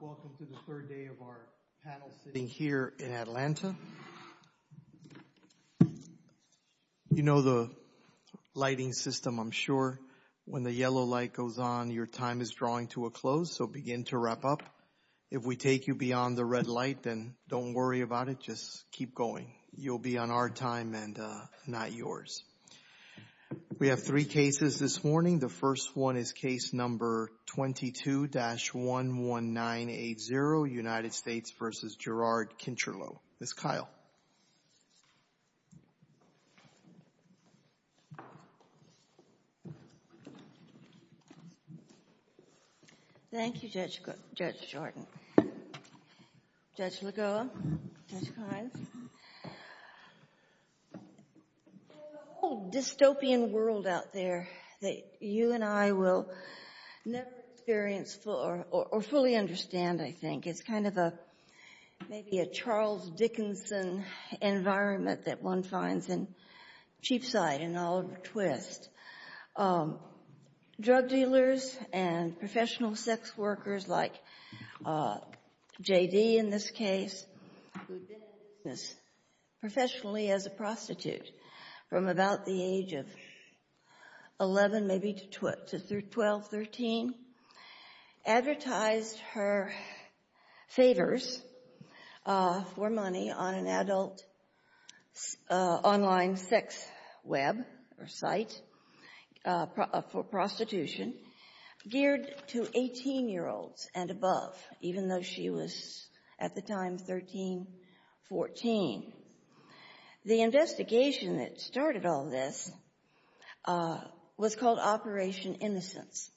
Welcome to the third day of our panel sitting here in Atlanta. You know the lighting system, I'm sure. When the yellow light goes on, your time is drawing to a close, so begin to wrap up. If we take you beyond the red light, then don't worry about it. Just keep going. You'll be on our time and not yours. We have three cases this morning. The first one is case number 22-11980, United States v. Jirard Kincherlow. Ms. Kyle. Thank you, Judge Jordan, Judge Lagoa, Judge Kimes. There's a whole dystopian world out there that you and I will never experience or fully understand, I think. It's kind of maybe a Charles Dickinson environment that one finds in Cheapside and Oliver Twist. Drug dealers and professional sex workers, like J.D. in this case, who'd been in this professionally as a for money on an adult online sex web or site for prostitution geared to 18-year-olds and above, even though she was at the time 13, 14. The investigation that started all this was called Innocence.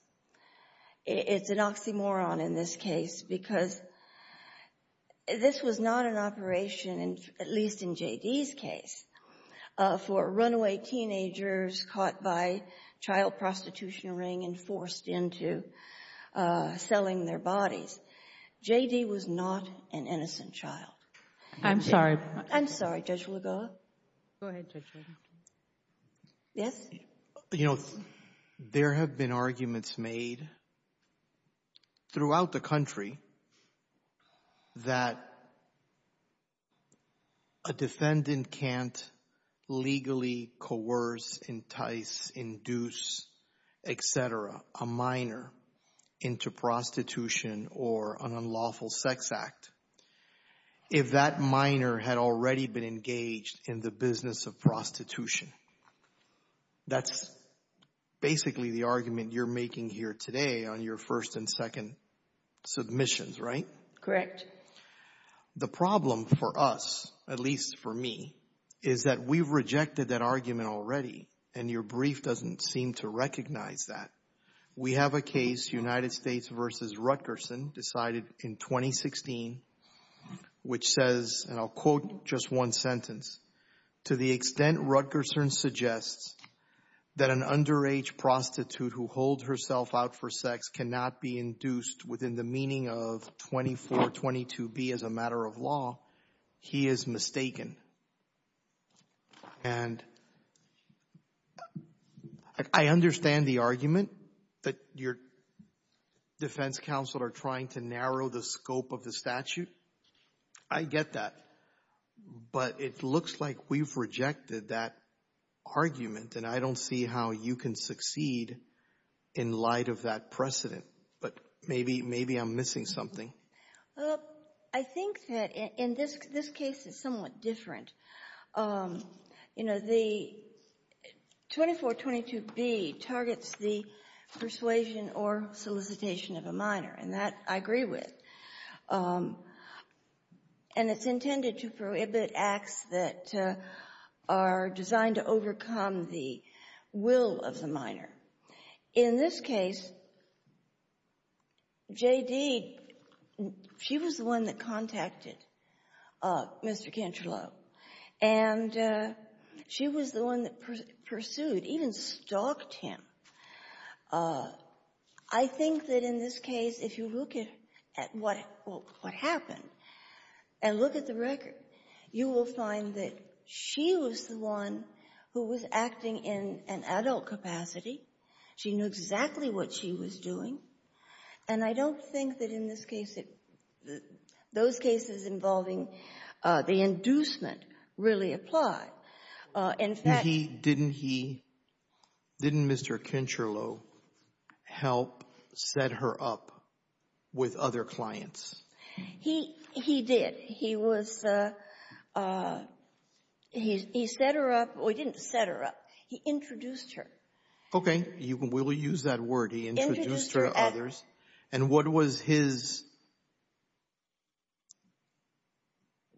It's an oxymoron in this case because this was not an operation, at least in J.D.'s case, for runaway teenagers caught by child prostitution ring and forced into selling their bodies. J.D. was not an innocent child. I'm sorry. I'm sorry, Judge Lagoa. Go ahead, Judge Jordan. Yes? You know, there have been arguments made throughout the country that a defendant can't legally coerce, entice, induce, et cetera, a minor into prostitution or an unlawful sex act if that minor had already been engaged in the business of prostitution. That's basically the argument you're making here today on your first and second submissions, right? Correct. The problem for us, at least for me, is that we've rejected that argument already, and your brief doesn't seem to recognize that. We have a case, United States v. Rutgerson, decided in 2016, which says, and I'll quote just one sentence, to the extent Rutgerson suggests that an underage prostitute who holds herself out for sex cannot be induced within the meaning of 2422b as a matter of law, he is mistaken. And I understand the argument that your defense counsel are trying to narrow the scope of the statute. I get that. But it looks like we've rejected that argument, and I don't see how you can succeed in light of that precedent. But maybe I'm missing something. Well, I think that in this case it's somewhat different. You know, the 2422b targets the persuasion or solicitation of a minor, and that I agree with. And it's intended to prohibit acts that are designed to overcome the will of the minor. In this case, J.D., she was the one that contacted Mr. Cantrello, and she was the one that pursued, even stalked him. I think that in this case, if you look at what happened and look at the record, you will find that she was the one who was acting in an adult capacity. She knew exactly what she was doing. And I don't think that in this case, those cases involving the inducement really apply. In fact— And he — didn't he — didn't Mr. Cantrello help set her up with other clients? He — he did. He was — he set her up — well, he didn't set her up. He introduced her. Okay. We'll use that word. He introduced her to others. And what was his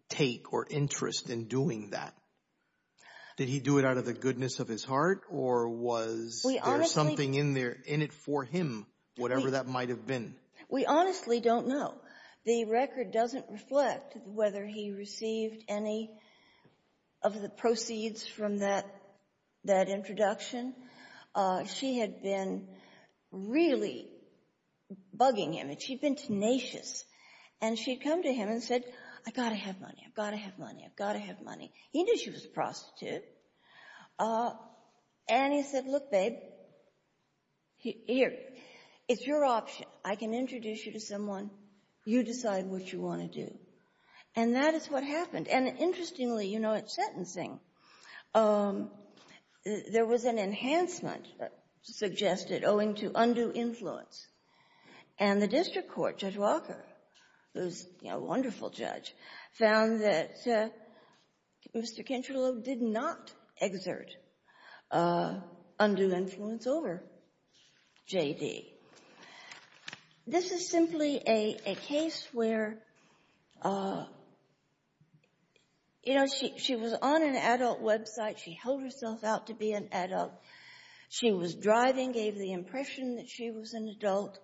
take or interest in doing that? Did he do it out of the goodness of his heart, or was there something in there — in it for him, whatever that might have been? We honestly don't know. The record doesn't reflect whether he received any of the proceeds from that introduction. She had been really bugging him, and she'd been tenacious. And she'd come to him and said, I've got to have money. I've got to have money. I've got to have money. He knew she was a prostitute. And he said, look, babe, here. It's your option. I can introduce you to someone. You decide what you want to do. And that is what happened. And interestingly, you know, at sentencing, there was an enhancement suggested owing to undue influence. And the district court, Judge Walker, who's, you know, a wonderful judge, found that Mr. Kentrelow did not exert undue influence over JD. This is simply a case where, you know, she was on an adult website. She held herself out to be an adult. She was driving, gave the impression that she was an adult.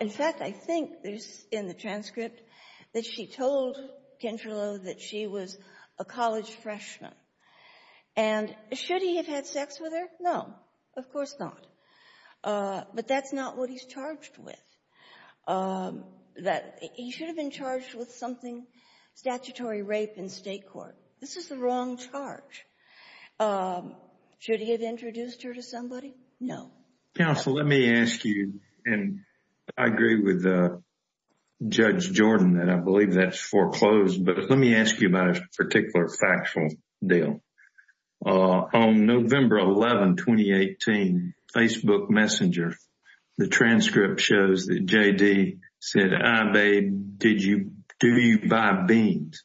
In fact, I think there's in the transcript that she told Kentrelow that she was a college freshman. And should he have had sex with her? No, of course not. But that's not what he's charged with. He should have been This is the wrong charge. Should he have introduced her to somebody? No. Counsel, let me ask you, and I agree with Judge Jordan that I believe that's foreclosed, but let me ask you about a particular factual deal. On November 11, 2018, Facebook Messenger, the transcript shows that JD said, I, babe, did you, do you buy beans?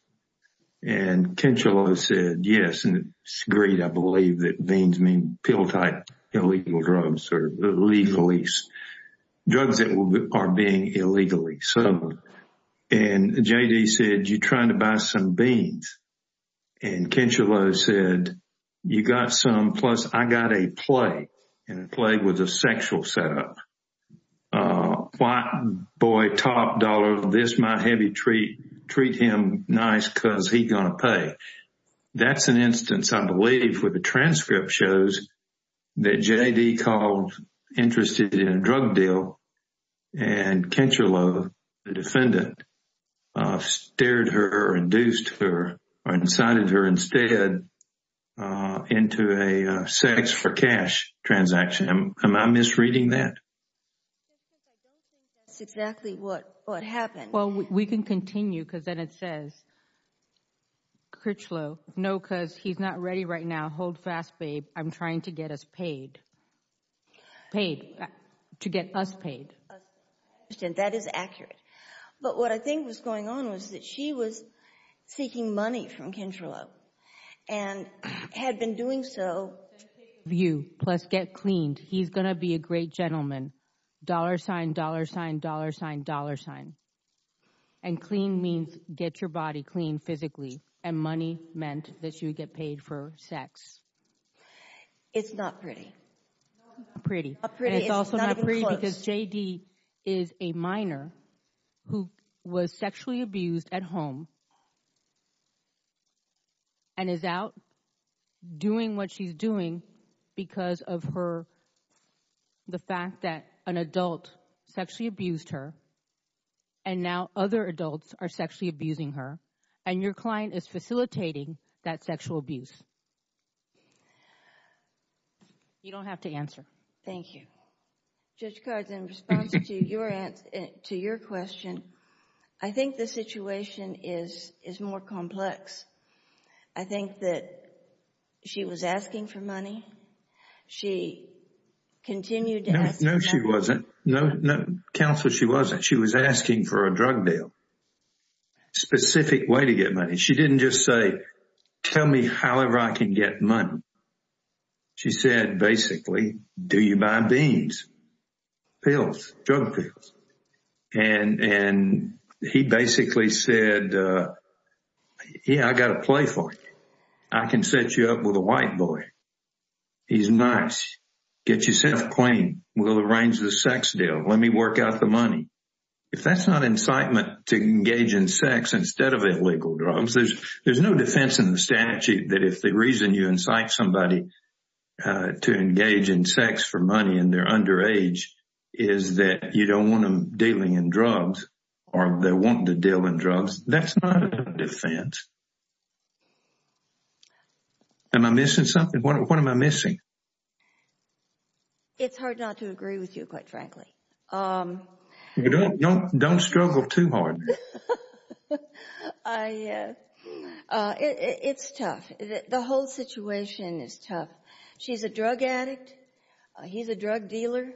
And Kentrelow said, yes, and it's agreed, I believe that beans mean pill type illegal drugs or legally, drugs that are being illegally sold. And JD said, you're trying to buy some beans. And Kentrelow said, you got some, plus I got a play. And the play was a sexual setup. White boy, top dollar, this my heavy treat, treat him nice because he's going to pay. That's an instance, I believe, where the transcript shows that JD called interested in a drug deal. And Kentrelow, the defendant, stared her, induced her, or incited her instead into a sex for cash transaction. Am I misreading that? That's exactly what happened. Well, we can continue because then it says Kurtzlow. No, because he's not ready right now. Hold fast, babe. I'm trying to get us paid. Paid, to get us paid. That is accurate. But what I think was going on was that she was seeking money from Kentrelow and had been doing so. View, plus get cleaned. He's going to be a great gentleman. Dollar sign, dollar sign, dollar sign, dollar sign. And clean means get your body clean physically. And money meant that you would get paid for sex. It's not pretty. Not pretty. Not pretty. It's not even close. It's also not pretty because JD is a minor who was sexually abused at home. And is out doing what she's doing because of her, the fact that an adult sexually abused her. And now other adults are sexually abusing her. And your client is facilitating that sexual abuse. You don't have to answer. Thank you. Judge Codds, in response to your answer, to your question, I think the situation is more complex. I think that she was asking for money. She continued to ask. No, she wasn't. No, no, counsel, she wasn't. She was asking for a drug deal. Specific way to get money. She didn't just say, tell me however I can get money. She said, basically, do you buy beans, pills, drug pills? And he basically said, yeah, I got to play for you. I can set you up with a white boy. He's nice. Get yourself clean. We'll arrange the sex deal. Let me work out the money. If that's not incitement to engage in sex instead of illegal drugs, there's no defense in the statute that if the reason you incite somebody to engage in sex for money and they're underage is that you don't want them dealing in drugs or they want to deal in drugs. That's not a defense. Am I missing something? What am I missing? It's hard not to agree with you, quite frankly. Don't struggle too hard. It's tough. The whole situation is tough. She's a drug addict. He's a drug dealer.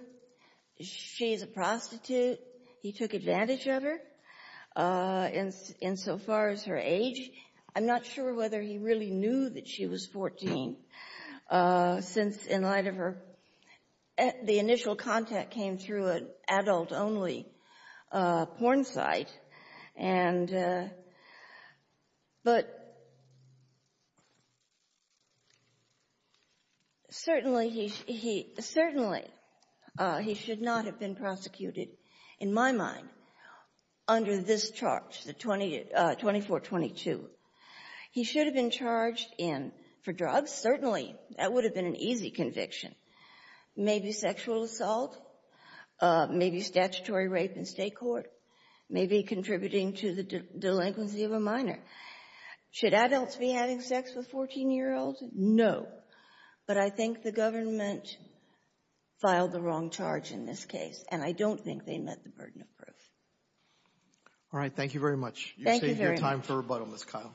She's a prostitute. He took advantage of her insofar as her age. I'm not sure whether he really knew that she was 14 since, in light of her, the initial contact came through an He should not have been prosecuted, in my mind, under this charge, the 2422. He should have been charged for drugs. Certainly, that would have been an easy conviction. Maybe sexual assault. Maybe statutory rape in state court. Maybe contributing to the delinquency of a minor. Should adults be having sex with 14-year-olds? No. But I think the government filed the wrong charge in this case, and I don't think they met the burden of proof. All right. Thank you very much. You've saved your time for rebuttal, Ms. Kyle.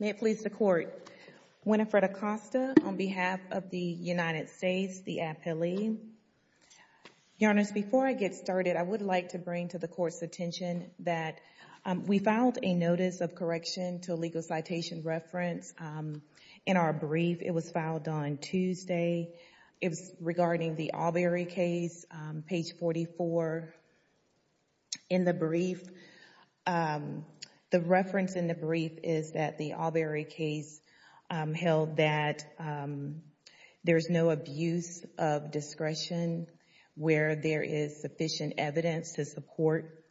May it please the Court. Winifred Acosta on behalf of the United States, the appellee. Your Honors, before I get started, I would like to bring to the Court's attention that we filed a notice of correction to a legal citation reference in our brief. It was filed on in the brief. The reference in the brief is that the Albury case held that there's no abuse of discretion where there is sufficient evidence to support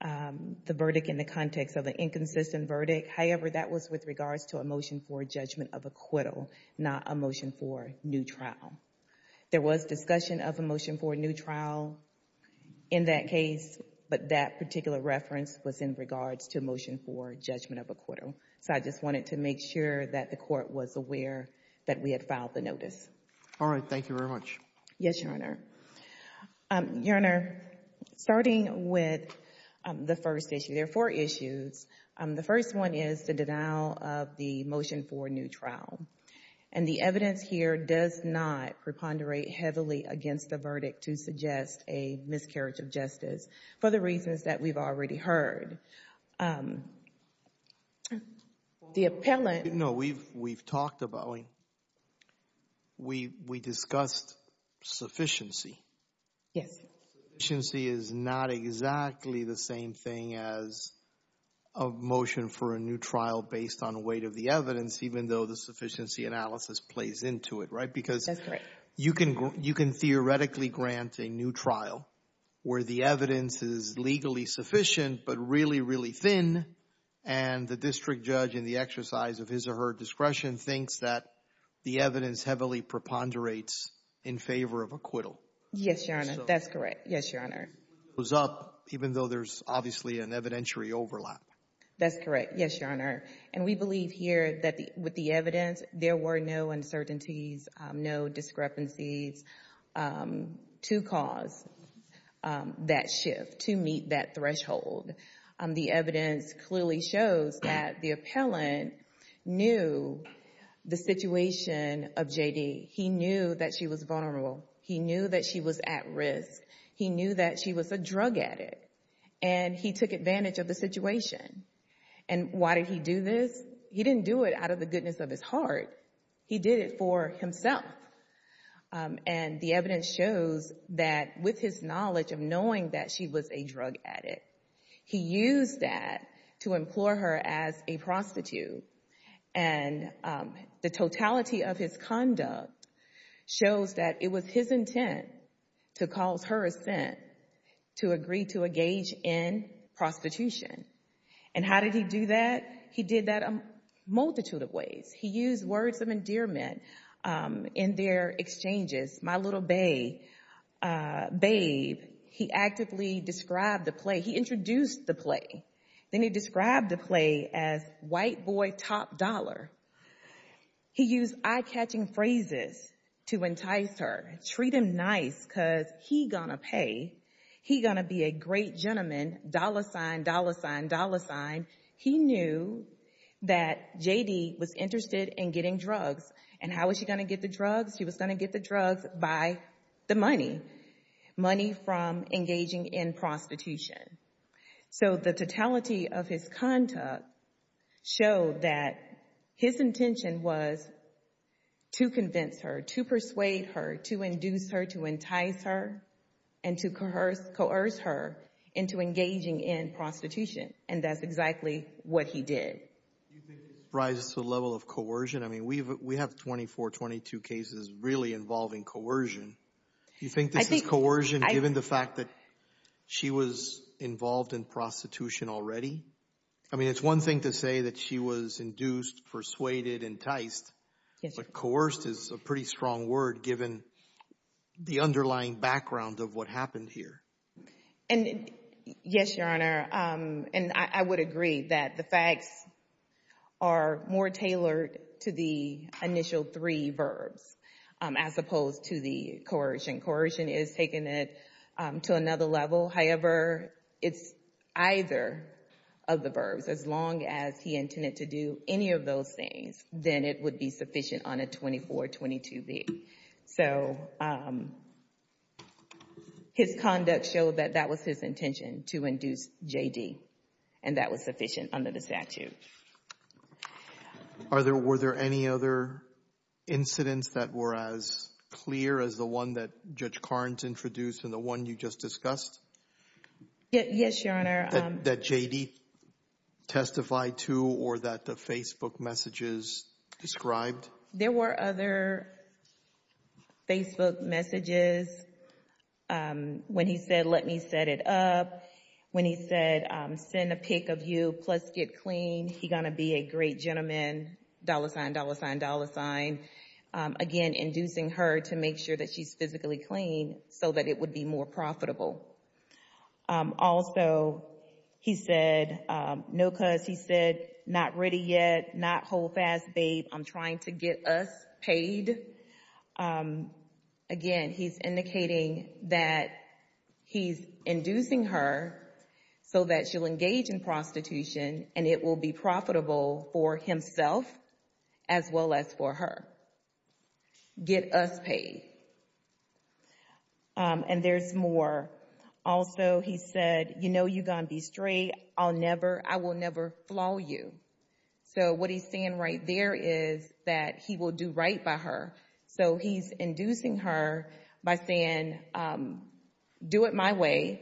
the verdict in the context of an inconsistent verdict. However, that was with regards to a motion for judgment of acquittal, not a motion for new trial. There was discussion of a motion for new trial in that case, but that particular reference was in regards to a motion for judgment of acquittal. So I just wanted to make sure that the Court was aware that we had filed the notice. All right. Thank you very much. Yes, Your Honor. Your Honor, starting with the first issue, there are four issues. The first one is the denial of the motion for new trial, and the evidence here does not preponderate heavily against the verdict to suggest a miscarriage of justice for the reasons that we've already heard. The appellant... No, we've talked about... We discussed sufficiency. Yes. Sufficiency is not exactly the same thing as a motion for a new trial based on weight of the analysis plays into it, right? Because you can theoretically grant a new trial where the evidence is legally sufficient but really, really thin, and the district judge in the exercise of his or her discretion thinks that the evidence heavily preponderates in favor of acquittal. Yes, Your Honor. That's correct. Yes, Your Honor. Even though there's obviously an evidentiary overlap. That's correct. Yes, Your Honor. And we believe here that with the evidence no uncertainties, no discrepancies to cause that shift to meet that threshold. The evidence clearly shows that the appellant knew the situation of JD. He knew that she was vulnerable. He knew that she was at risk. He knew that she was a drug addict, and he took advantage of the situation. And why did he do this? He didn't do it out of the goodness of his heart. He did it for himself. And the evidence shows that with his knowledge of knowing that she was a drug addict, he used that to implore her as a prostitute. And the totality of his conduct shows that it was his intent to cause her assent to agree to engage in prostitution. And how did he do that? He did that a multitude of ways. He used words of endearment in their exchanges. My little babe, he actively described the play. He introduced the play. Then he described the play as white boy top dollar. He used eye-catching phrases to entice her. Treat him nice because he going to pay. He going to be a great gentleman, dollar sign, dollar sign, dollar sign. He knew that JD was interested in getting drugs. And how was he going to get the drugs? He was going to get the drugs by the money, money from engaging in prostitution. So the totality of his conduct showed that his intention was to convince her, to persuade her, to induce her, to entice her, and to coerce her into engaging in prostitution. And that's exactly what he did. Do you think this rises to the level of coercion? I mean, we have 24, 22 cases really involving coercion. Do you think this is coercion given the fact that she was involved in prostitution already? I mean, it's one thing to say that she was induced, persuaded, enticed, but coerced is a pretty strong word given the underlying background of what happened here. And yes, Your Honor, and I would agree that the facts are more tailored to the initial three verbs as opposed to the coercion. Coercion is taking it to another level. However, it's either of the verbs. As long as he intended to do any of those things, then it would be sufficient on a 24, 22-B. So his conduct showed that that was his intention, to induce J.D., and that was sufficient under the statute. Were there any other incidents that were as clear as the one that Judge Carnes introduced and the one you just discussed? Yes, Your Honor. That J.D. testified to or that the Facebook messages described? There were other Facebook messages when he said, let me set it up, when he said, send a pic of you, plus get clean. He gonna be a great gentleman, dollar sign, dollar sign, dollar sign. Again, inducing her to make sure that she's physically clean so that it would be more profitable. Also, he said, no cuss, he said, not ready yet, not hold fast, babe. I'm trying to get us paid. Again, he's indicating that he's inducing her so that she'll engage in prostitution and it will be profitable for himself as well as for her. Get us paid. And there's more. Also, he said, you know, you gonna be straight. I'll never, I will never flaw you. So what he's saying right there is that he will do right by her. So he's inducing her by saying, do it my way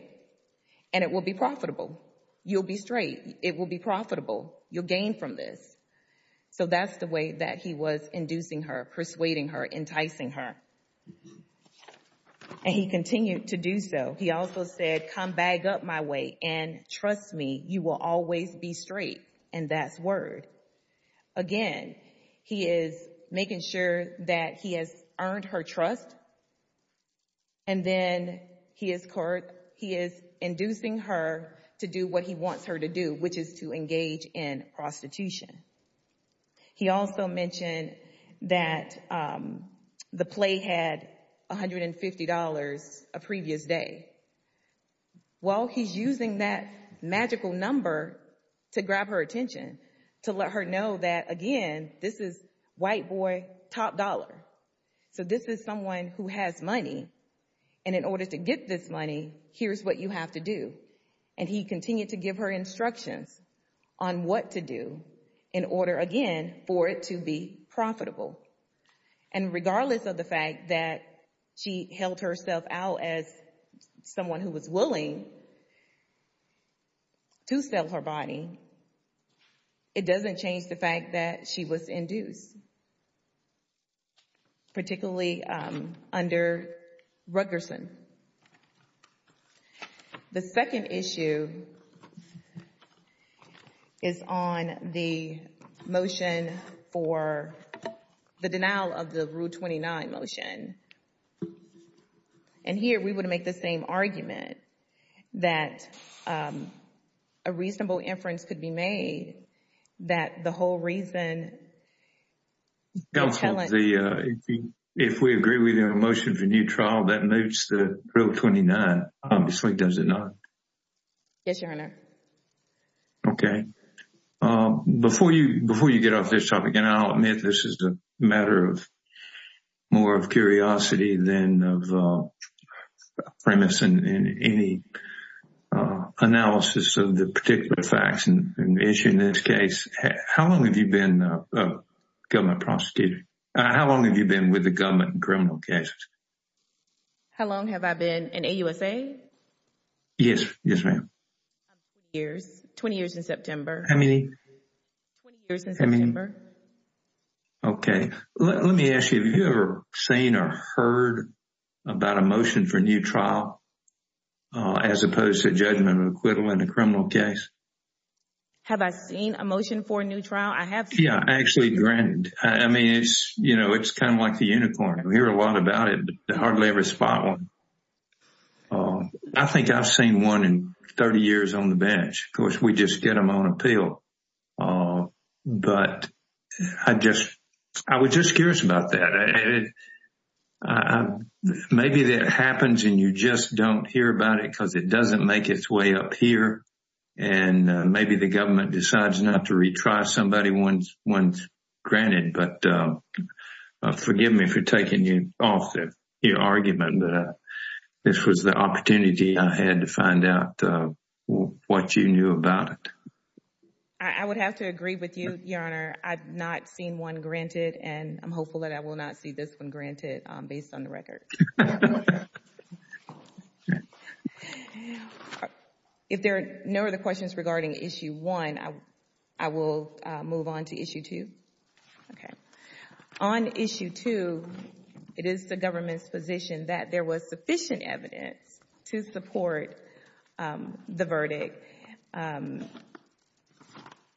and it will be profitable. You'll be straight. It will be profitable. You'll gain from this. So that's the way that he was inducing her, persuading her, enticing her. And he continued to do so. He also said, come back up my way and trust me, you will always be straight. And that's word. Again, he is making sure that he has earned her trust. And then he is, he is inducing her to do what he wants her to do, which is to engage in prostitution. He also mentioned that the play had $150 a previous day. Well, he's using that magical number to grab her attention, to let her know that, again, this is white boy, top dollar. So this is someone who has money. And in order to get this money, here's what you have to do. And he continued to give her instructions on what to do in order again, for it to be profitable. And regardless of the fact that she held herself out as someone who was willing to sell her body, it doesn't change the fact that she was induced, particularly under Rutgerson. The second issue is on the motion for the denial of the Rule 29 motion. And here we would make the same argument that a reasonable inference could be made that the whole reason... If we agree with your motion for new trial that moves to Rule 29, obviously, does it not? Yes, Your Honor. Okay. Before you get off this topic, and I'll admit this is a matter of more of curiosity than of premise in any analysis of the particular facts and issue in this case, how long have you been a government prosecutor? How long have you been with the government in criminal cases? How long have I been in AUSA? Yes. Yes, ma'am. 20 years in September. How many? 20 years in September. Okay. Let me ask you, have you ever seen or heard about a motion for new trial as opposed to judgment of acquittal in a criminal case? Have I seen a motion for a new trial? I have seen... Yeah, actually, granted. I mean, it's kind of like the unicorn. We hear a lot about it, but hardly ever spot one. I think I've seen one in 30 years on the bench. Of course, we just get them on appeal. But I was just curious about that. Maybe that happens and you just don't hear about it because it doesn't make its way up here. And maybe the government decides not to retry somebody once granted. But forgive me for taking you off the argument, but this was the opportunity I had to find out what you knew about it. I would have to agree with you, Your Honor. I've not seen one granted, and I'm hopeful that I will not see this one granted based on the record. If there are no other questions regarding Issue 1, I will move on to Issue 2. Okay. On Issue 2, it is the government's position that there was sufficient evidence to support the verdict.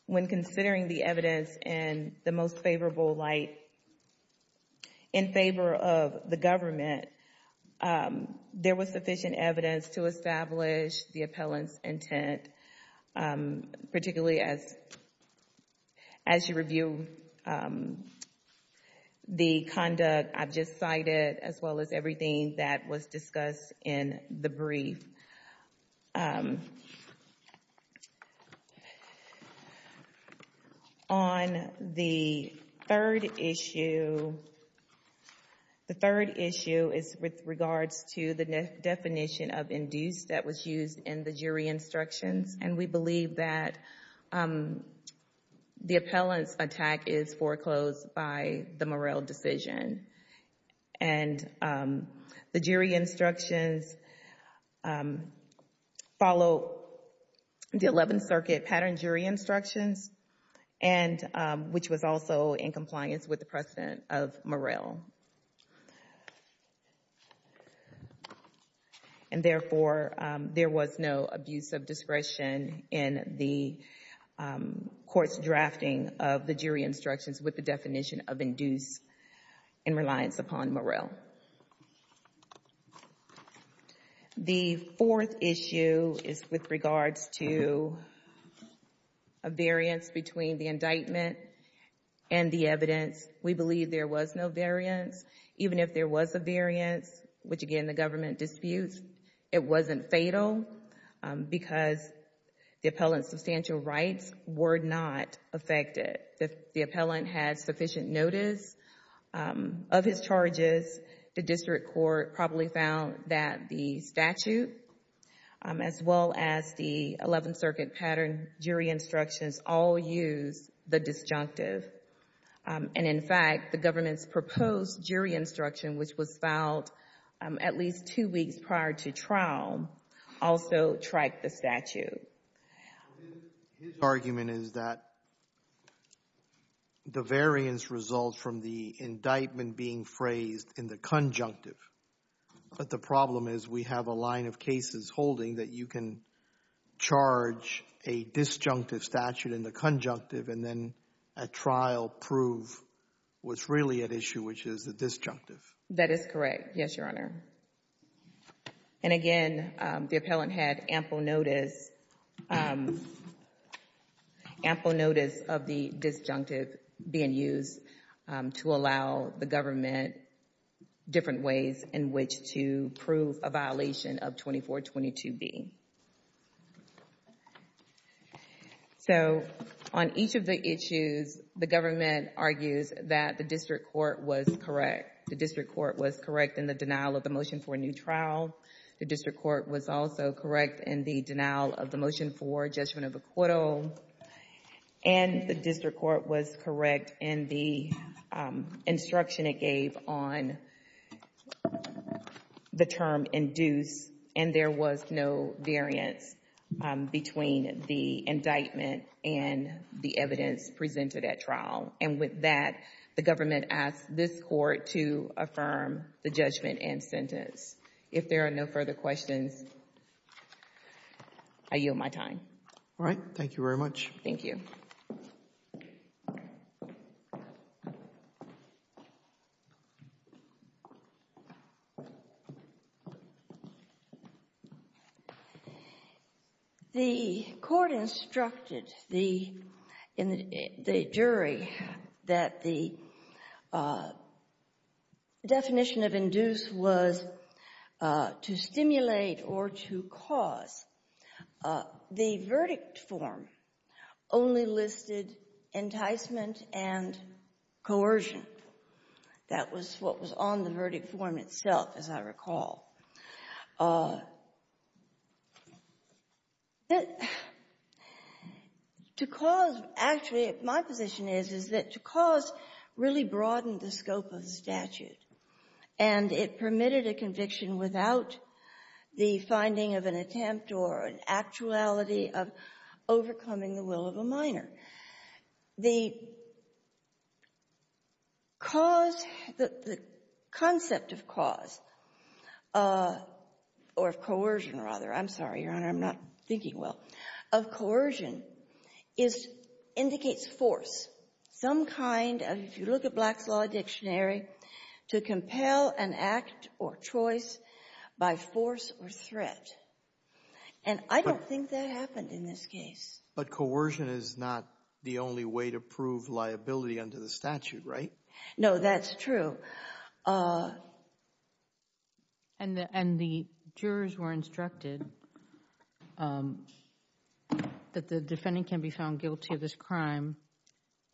When considering the evidence in the most favorable light, in favor of the government, there was sufficient evidence to establish the appellant's intent, particularly as you review the conduct I've just cited, as well as everything that was discussed in the brief. On the third issue, the third issue is with regards to the definition of induced that was used in the jury instructions. And we believe that the appellant's attack is foreclosed by the Morrell decision. And the jury instructions follow the 11th Circuit pattern jury instructions, which was also in compliance with the precedent of Morrell. And, therefore, there was no abuse of discretion in the court's drafting of the jury instructions with the definition of induced and reliance upon Morrell. The fourth issue is with regards to a variance between the indictment and the evidence. We believe there was no variance. Even if there was a variance, which, again, the government disputes, it wasn't fatal because the appellant's substantial rights were not affected. The appellant had sufficient notice of his charges. The district court probably found that the statute, as well as the 11th Circuit pattern jury instructions, all used the disjunctive. And, in fact, the government's proposed jury instruction, which was filed at least two weeks prior to trial, also tracked the statute. His argument is that the variance results from the indictment being phrased in the conjunctive. But the problem is we have a line of cases holding that you can a disjunctive statute in the conjunctive and then a trial prove what's really at issue, which is the disjunctive. That is correct. Yes, Your Honor. And, again, the appellant had ample notice of the disjunctive being used to allow the government different ways in which to prove a violation of 2422B. So, on each of the issues, the government argues that the district court was correct. The district court was correct in the denial of the motion for a new trial. The district court was also correct in the denial of the motion for judgment of acquittal. And the district court was correct in the instruction it gave on the term induced, and there was no variance between the indictment and the evidence presented at trial. And with that, the government asked this court to affirm the judgment and sentence. If there are no further questions, I yield my time. All right. Thank you very much. Thank you. The court instructed the jury that the definition of induced was to stimulate or to cause a verdict. The verdict form only listed enticement and coercion. That was what was on the verdict form itself, as I recall. Actually, my position is that to cause really broadened the scope of the statute, and it permitted a conviction without the finding of an attempt or an actuality of overcoming the will of a minor. The cause, the concept of cause, or of coercion, rather, I'm sorry, Your Honor, I'm not thinking well, of coercion indicates force, some kind of, if you look at Black's Law Dictionary, to compel an act or choice by force or threat. And I don't think that happened in this case. But coercion is not the only way to prove liability under the statute, right? No, that's true. And the jurors were instructed that the defendant can be found guilty of this crime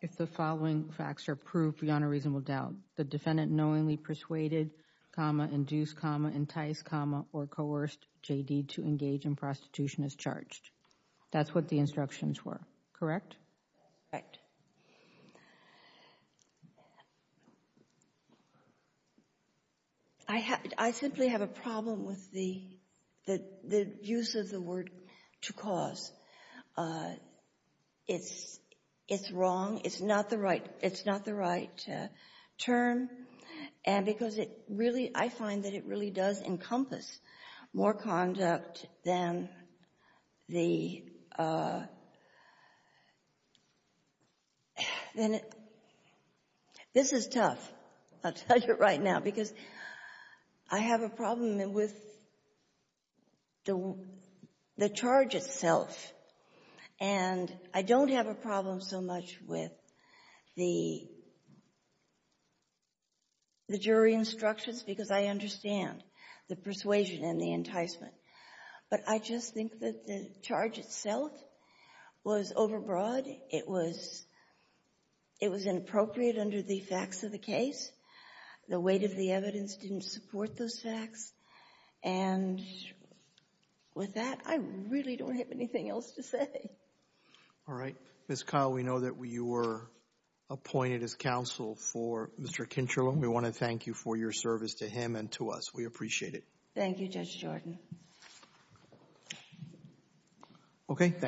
if the following facts are proved beyond a reasonable doubt. The defendant knowingly persuaded, induced, enticed, or coerced J.D. to engage in prostitution as charged. That's what the instructions were, correct? Correct. I simply have a problem with the use of the word to cause. It's wrong. It's not the right term. And because it really, I find that it really does encompass more conduct than the... This is tough, I'll tell you right now, because I have a problem with the charge itself, and I don't have a problem so much with the jury instructions, because I understand the persuasion and the enticement. But I just think that the charge itself was overbroad. It was inappropriate under the facts of the case. The weight of the evidence didn't support those facts. And with that, I really don't have anything else to say. All right. Ms. Kyle, we know that you were appointed as counsel for Mr. Kintreland. We want to thank you for your service to him and to us. We appreciate it. Thank you, Judge Jordan. Okay, thank you.